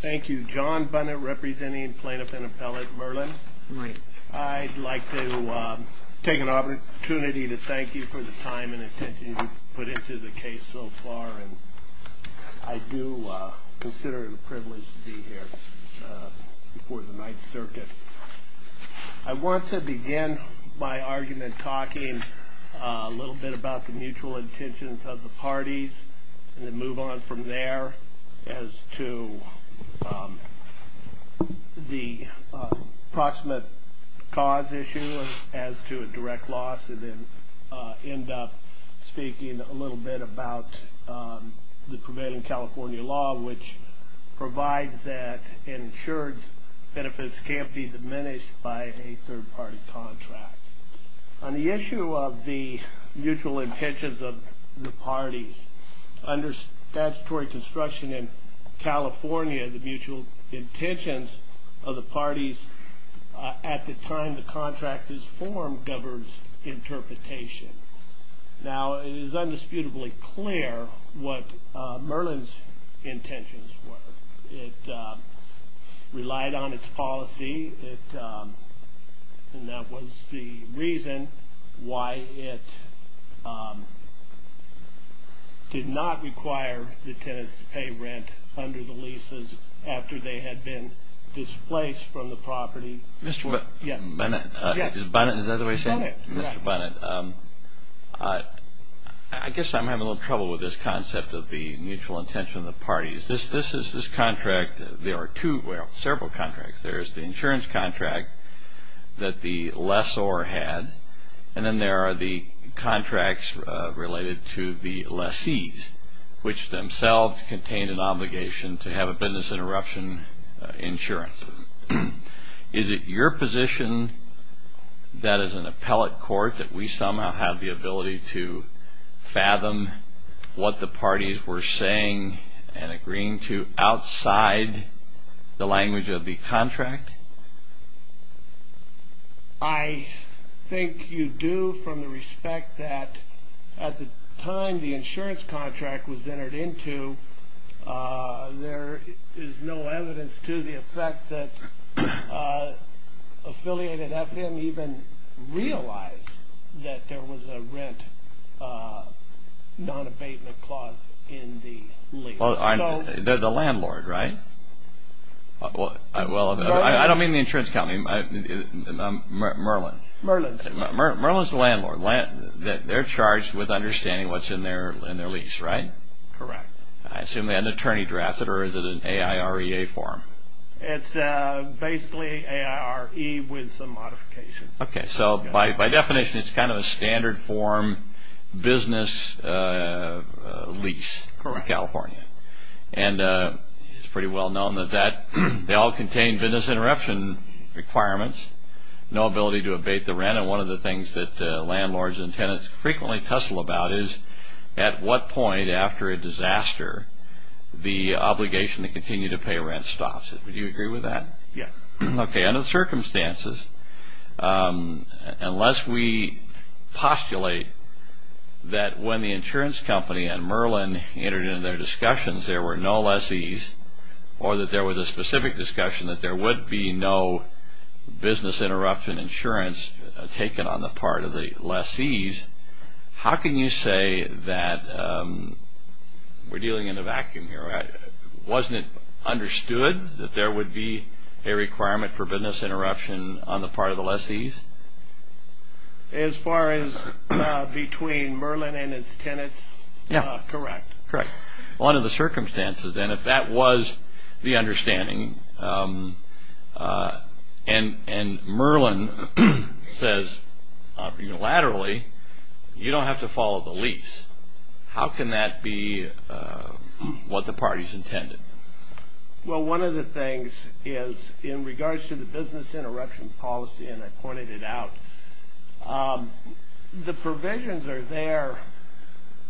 Thank you. John Bunnett, representing plaintiff and appellate Mirlan. I'd like to take an opportunity to thank you for the time and attention you've put into the case so far. I do consider it a privilege to be here before the Ninth Circuit. I want to begin my argument talking a little bit about the mutual intentions of the parties and then move on from there as to the approximate cause issue as to a direct loss and then end up speaking a little bit about the prevailing California law which provides that insured benefits can't be diminished by a third party contract. On the issue of the mutual intentions of the parties, under statutory construction in California, the mutual intentions of the parties at the time the contract is formed governs interpretation. Now, it is undisputably clear what Mirlan's intentions were. It relied on its policy and that was the reason why it did not require the tenants to pay rent under the leases after they had been displaced from the property. Mr. Bunnett, I guess I'm having a little trouble with this concept of the mutual intention of the parties. There are several contracts. There is the insurance contract that the lessor had and then there are the contracts related to the lessees which themselves contain an obligation to have a business interruption insurance. Is it your position that as an appellate court that we somehow have the ability to fathom what the parties were saying and agreeing to outside the language of the contract? I think you do from the respect that at the time the insurance contract was entered into, there is no evidence to the effect that affiliated FM even realized that there was a rent non-abatement clause in the lease. The landlord, right? I don't mean the insurance company, Mirlan. Mirlan's the landlord. They're charged with understanding what's in their lease, right? Correct. I assume they had an attorney draft it or is it an AIREA form? It's basically AIRE with some modifications. Okay, so by definition it's kind of a standard form business lease in California. It's pretty well known that they all contain business interruption requirements, no ability to abate the rent, and one of the things that landlords and tenants frequently tussle about is at what point after a disaster the obligation to continue to pay rent stops. Would you agree with that? Yes. Okay, under the circumstances, unless we postulate that when the insurance company and Mirlan entered into their discussions, there were no lessees or that there was a specific discussion that there would be no business interruption insurance taken on the part of the lessees, how can you say that we're dealing in a vacuum here? Wasn't it understood that there would be a requirement for business interruption on the part of the lessees? As far as between Mirlan and his tenants, correct. Correct. Under the circumstances, then, if that was the understanding and Mirlan says unilaterally you don't have to follow the lease, how can that be what the parties intended? Well, one of the things is in regards to the business interruption policy, and I pointed it out, the provisions are there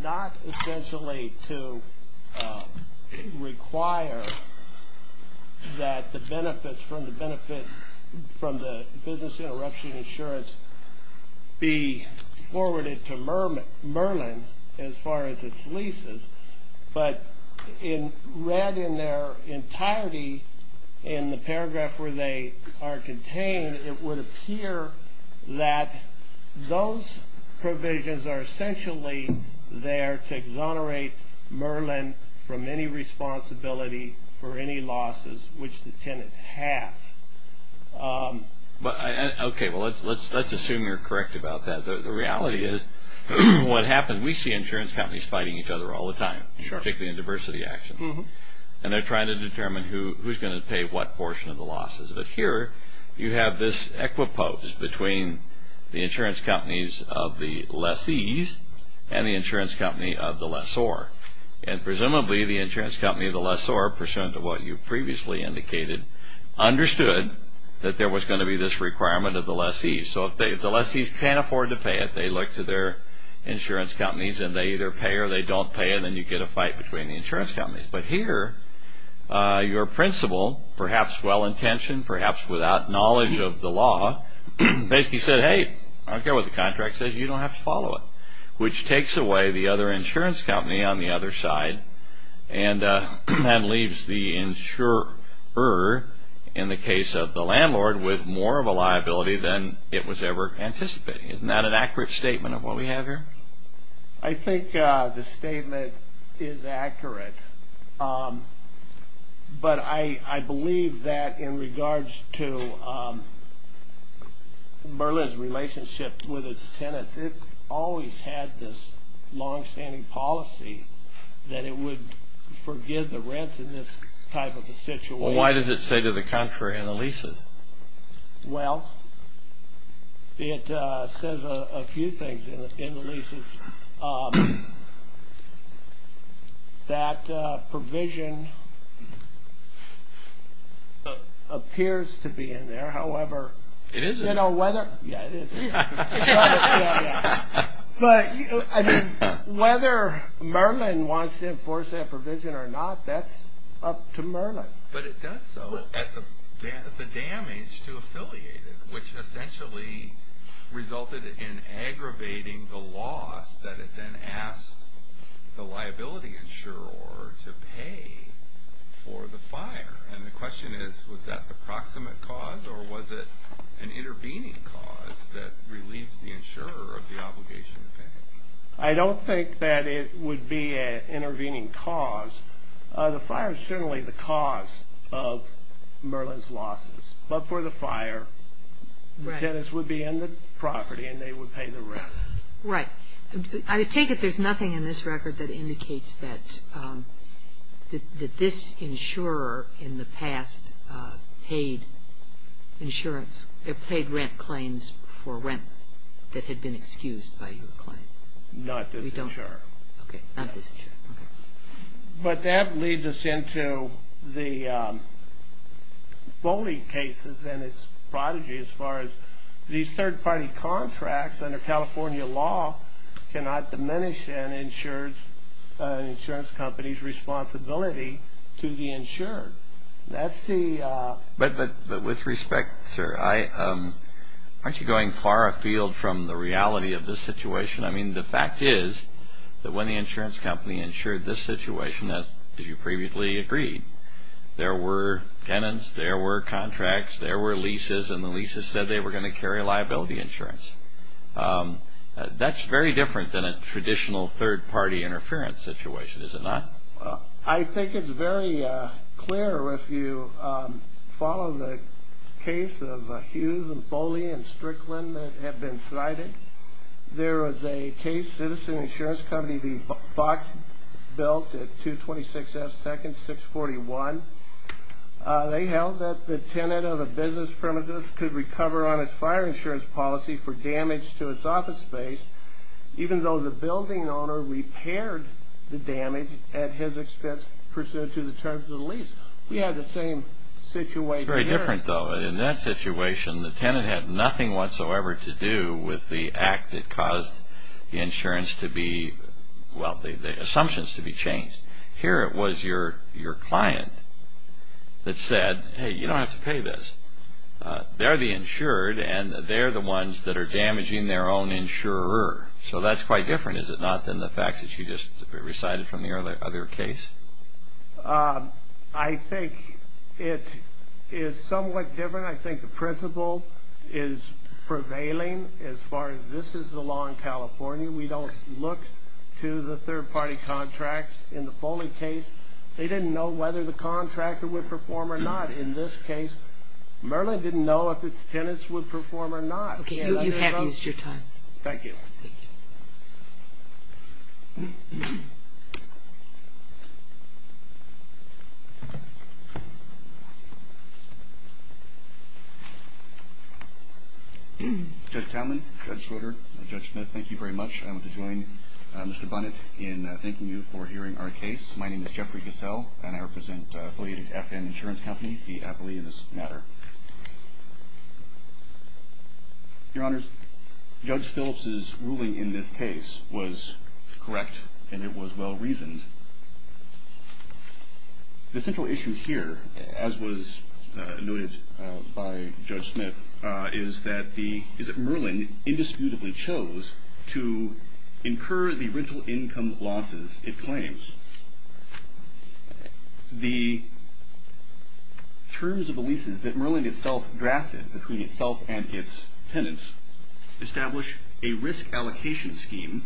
not essentially to require that the benefits from the business interruption insurance be forwarded to Mirlan as far as its leases, but read in their entirety in the paragraph where they are contained, it would appear that those provisions are essentially there to exonerate Mirlan from any responsibility for any losses, which the tenant has. Okay. Well, let's assume you're correct about that. The reality is what happens, we see insurance companies fighting each other all the time, particularly in diversity actions, and they're trying to determine who's going to pay what portion of the losses. But here you have this equipose between the insurance companies of the lessees and the insurance company of the lessor, and presumably the insurance company of the lessor, pursuant to what you previously indicated, understood that there was going to be this requirement of the lessees. So if the lessees can't afford to pay it, they look to their insurance companies, and they either pay or they don't pay, and then you get a fight between the insurance companies. But here your principal, perhaps well-intentioned, perhaps without knowledge of the law, basically said, hey, I don't care what the contract says, you don't have to follow it, which takes away the other insurance company on the other side and then leaves the insurer, in the case of the landlord, with more of a liability than it was ever anticipating. Isn't that an accurate statement of what we have here? I think the statement is accurate, but I believe that in regards to Merlin's relationship with its tenants, it always had this longstanding policy that it would forgive the rents in this type of a situation. Well, why does it say to the contrary in the leases? Well, it says a few things in the leases. That provision appears to be in there, however. It is in there. Yeah, it is. But whether Merlin wants to enforce that provision or not, that's up to Merlin. But it does so at the damage to affiliated, which essentially resulted in aggravating the loss that it then asked the liability insurer to pay for the fire. And the question is, was that the proximate cause, or was it an intervening cause that relieves the insurer of the obligation to pay? I don't think that it would be an intervening cause. The fire is certainly the cause of Merlin's losses. But for the fire, the tenants would be in the property and they would pay the rent. Right. I take it there's nothing in this record that indicates that this insurer in the past paid insurance, paid rent claims for rent that had been excused by your claim. Not this insurer. Okay, not this insurer. But that leads us into the bowling cases and its prodigy as far as these third-party contracts under California law cannot diminish an insurance company's responsibility to the insured. That's the... But with respect, sir, aren't you going far afield from the reality of this situation? I mean, the fact is that when the insurance company insured this situation, as you previously agreed, there were tenants, there were contracts, there were leases, and the leases said they were going to carry liability insurance. That's very different than a traditional third-party interference situation, is it not? I think it's very clear if you follow the case of Hughes and Foley and Strickland that have been cited. There was a case, Citizen Insurance Company v. Fox built at 226 F. Second, 641. They held that the tenant of a business premises could recover on its fire insurance policy for damage to its office space even though the building owner repaired the damage at his expense pursuant to the terms of the lease. We had the same situation here. It's very different, though. But in that situation, the tenant had nothing whatsoever to do with the act that caused the insurance to be... well, the assumptions to be changed. Here it was your client that said, hey, you don't have to pay this. They're the insured, and they're the ones that are damaging their own insurer. So that's quite different, is it not, than the facts that you just recited from the other case? I think it is somewhat different. I think the principle is prevailing as far as this is the law in California. We don't look to the third-party contracts. In the Foley case, they didn't know whether the contractor would perform or not. In this case, Merlin didn't know if its tenants would perform or not. You have used your time. Thank you. Judge Townley, Judge Schroeder, and Judge Smith, thank you very much. I want to join Mr. Bunnett in thanking you for hearing our case. My name is Jeffrey Gassell, and I represent Foley FN Insurance Company, the affiliate in this matter. Your Honors, Judge Phillips's ruling in this case was correct, and it was well reasoned. The central issue here, as was noted by Judge Smith, is that Merlin indisputably chose to incur the rental income losses it claims. The terms of the leases that Merlin itself drafted between itself and its tenants establish a risk allocation scheme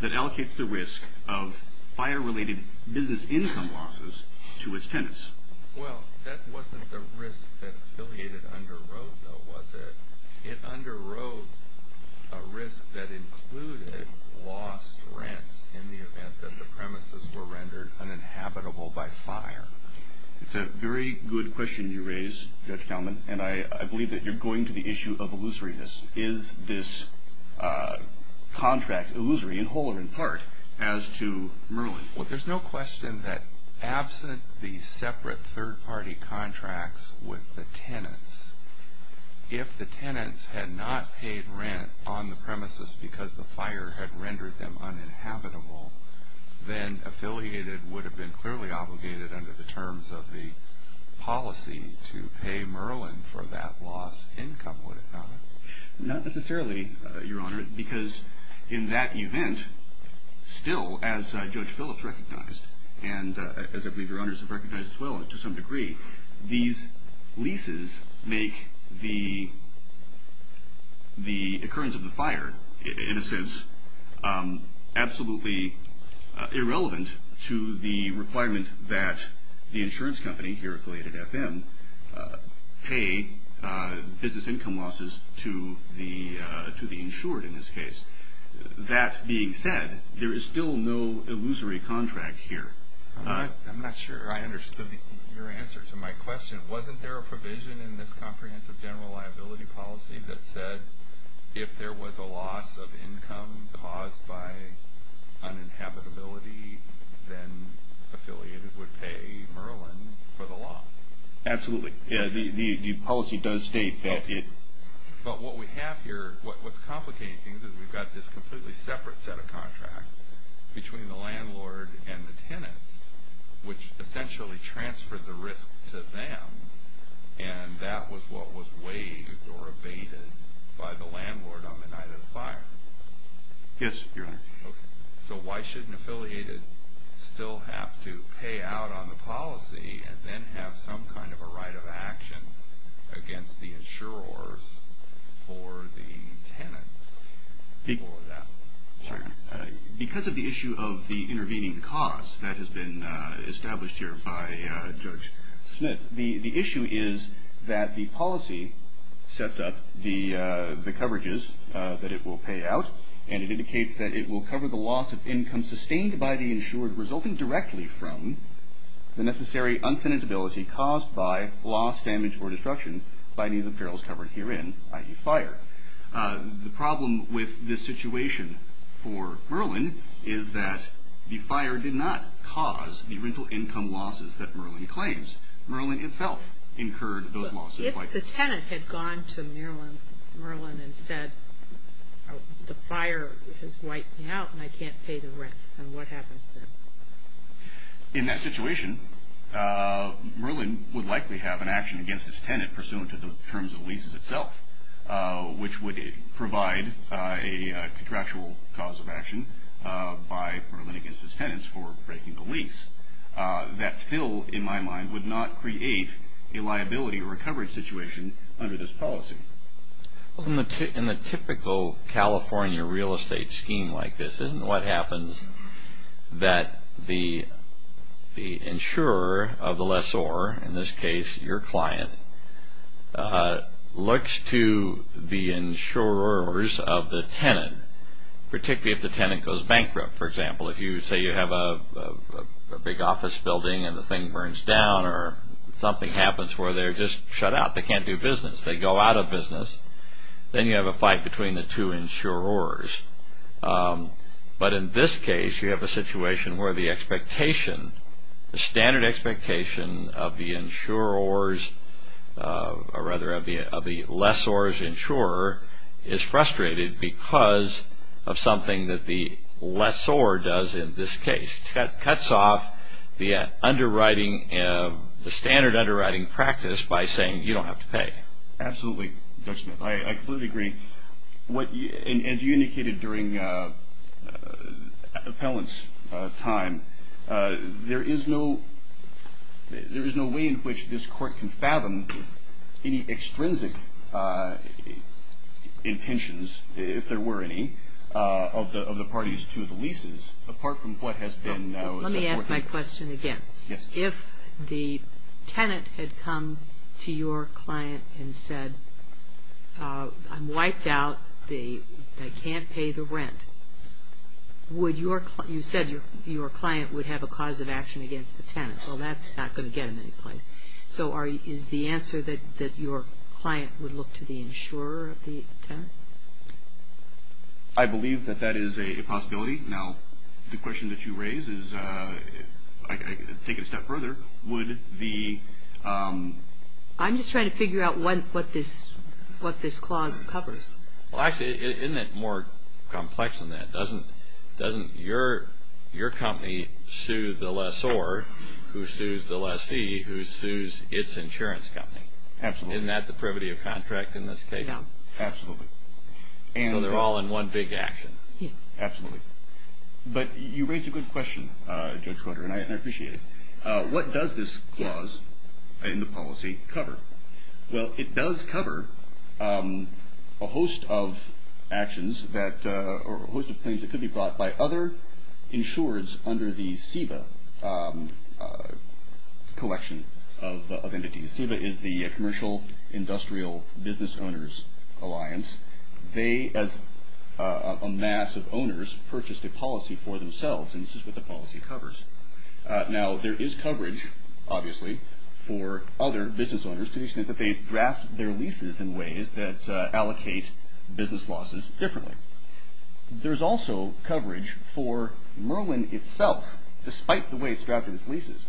that allocates the risk of fire-related business income losses to its tenants. Well, that wasn't the risk that affiliated underwrote, though, was it? It underwrote a risk that included lost rents in the event that the premises were rendered uninhabitable by fire. It's a very good question you raise, Judge Townley, and I believe that you're going to the issue of illusoriness. Is this contract illusory in whole or in part as to Merlin? Well, there's no question that absent the separate third-party contracts with the tenants, if the tenants had not paid rent on the premises because the fire had rendered them uninhabitable, then affiliated would have been clearly obligated under the terms of the policy to pay Merlin for that lost income, would it not? Not necessarily, Your Honor, because in that event, still, as Judge Phillips recognized, and as I believe Your Honors have recognized as well to some degree, these leases make the occurrence of the fire, in a sense, absolutely irrelevant to the requirement that the insurance company here, affiliated FM, pay business income losses to the insured in this case. That being said, there is still no illusory contract here. I'm not sure I understood your answer to my question. Wasn't there a provision in this comprehensive general liability policy that said, if there was a loss of income caused by uninhabitability, then affiliated would pay Merlin for the loss? Absolutely. The policy does state that it... But what we have here, what's complicating things is we've got this completely separate set of contracts between the landlord and the tenants, which essentially transferred the risk to them, and that was what was waived or abated by the landlord on the night of the fire. Yes, Your Honor. So why shouldn't affiliated still have to pay out on the policy and then have some kind of a right of action against the insurers for the tenants for that? Sorry. Because of the issue of the intervening cause that has been established here by Judge Smith, the issue is that the policy sets up the coverages that it will pay out, and it indicates that it will cover the loss of income sustained by the insured, resulting directly from the necessary unfinitability caused by loss, damage, or destruction by any of the perils covered herein, i.e. fire. The problem with this situation for Merlin is that the fire did not cause the rental income losses that Merlin claims. Merlin itself incurred those losses. If the tenant had gone to Merlin and said, the fire has wiped me out and I can't pay the rent, then what happens then? In that situation, Merlin would likely have an action against its tenant pursuant to the terms of leases itself, which would provide a contractual cause of action by Merlin against its tenants for breaking the lease. That still, in my mind, would not create a liability or a coverage situation under this policy. In the typical California real estate scheme like this, this is what happens that the insurer of the lessor, in this case your client, looks to the insurers of the tenant, particularly if the tenant goes bankrupt. For example, if you say you have a big office building and the thing burns down or something happens where they're just shut out, they can't do business, they go out of business, then you have a fight between the two insurers. But in this case, you have a situation where the standard expectation of the lessor's insurer is frustrated because of something that the lessor does in this case. That cuts off the standard underwriting practice by saying you don't have to pay. Absolutely, Judge Smith. I completely agree. As you indicated during appellant's time, there is no way in which this Court can fathom any extrinsic intentions, if there were any, of the parties to the leases, apart from what has been said. Let me ask my question again. Yes. If the tenant had come to your client and said, I'm wiped out, I can't pay the rent, you said your client would have a cause of action against the tenant. Well, that's not going to get him any place. So is the answer that your client would look to the insurer of the tenant? I believe that that is a possibility. Now, the question that you raise is, taking it a step further, would the ---- I'm just trying to figure out what this clause covers. Well, actually, isn't it more complex than that? Doesn't your company sue the lessor, who sues the lessee, who sues its insurance company? Absolutely. Isn't that the privity of contract in this case? Yes. Absolutely. So they're all in one big action. Yes. Absolutely. But you raised a good question, Judge Schroeder, and I appreciate it. What does this clause in the policy cover? Well, it does cover a host of actions that ---- or a host of claims that could be brought by other insurers under the SEBA collection of entities. SEBA is the Commercial Industrial Business Owners Alliance. They, as a mass of owners, purchased a policy for themselves, and this is what the policy covers. Now, there is coverage, obviously, for other business owners, to the extent that they draft their leases in ways that allocate business losses differently. There's also coverage for Merlin itself, despite the way it's drafted its leases.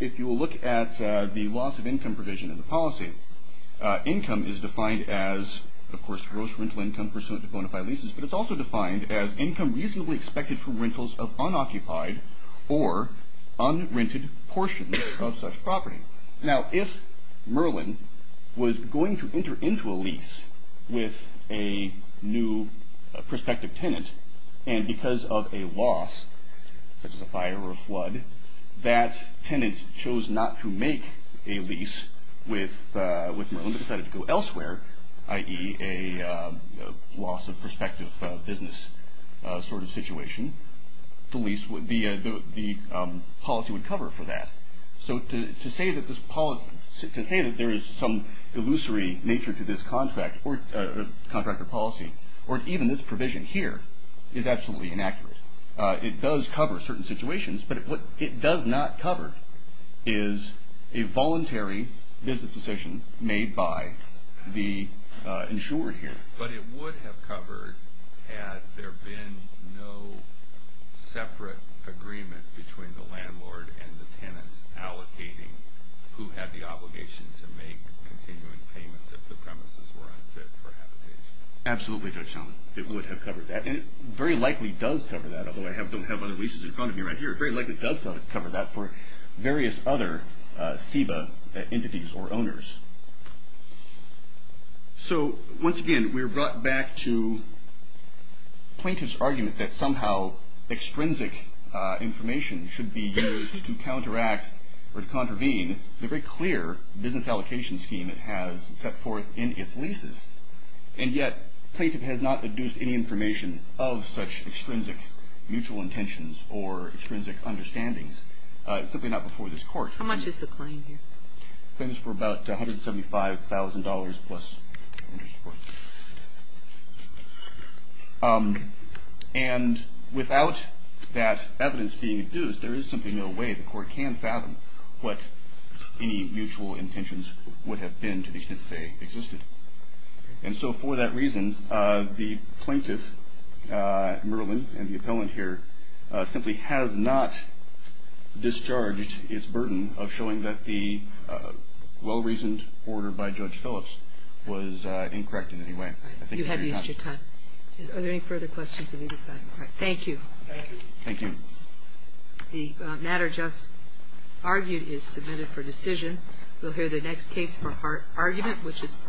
If you look at the loss of income provision in the policy, income is defined as, of course, gross rental income pursuant to bona fide leases, but it's also defined as income reasonably expected for rentals of unoccupied or unrented portions of such property. Now, if Merlin was going to enter into a lease with a new prospective tenant, and because of a loss, such as a fire or a flood, that tenant chose not to make a lease with Merlin, but decided to go elsewhere, i.e., a loss of prospective business sort of situation, the policy would cover for that. So, to say that there is some illusory nature to this contractor policy, or even this provision here, is absolutely inaccurate. It does cover certain situations, but what it does not cover is a voluntary business decision made by the insurer here. But it would have covered had there been no separate agreement between the landlord and the tenants allocating who had the obligation to make continuing payments if the premises were unfit for habitation. Absolutely, Judge Shum. It would have covered that, and it very likely does cover that, although I don't have other leases in front of me right here. It very likely does cover that for various other SEBA entities or owners. So, once again, we're brought back to plaintiff's argument that somehow extrinsic information should be used to counteract or to contravene the very clear business allocation scheme it has set forth in its leases, and yet plaintiff has not induced any information of such extrinsic mutual intentions or extrinsic understandings, simply not before this Court. How much is the claim here? Claims for about $175,000 plus interest. And without that evidence being induced, there is simply no way the Court can fathom what any mutual intentions would have been to the extent they existed. And so, for that reason, the plaintiff, Merlin, and the appellant here, simply has not discharged its burden of showing that the well-reasoned order by Judge Phillips was incorrect in any way. You have used your time. Are there any further questions on either side? Thank you. Thank you. Thank you. The matter just argued is submitted for decision. You'll hear the next case for argument, which is Parada-Chicas v. Holder.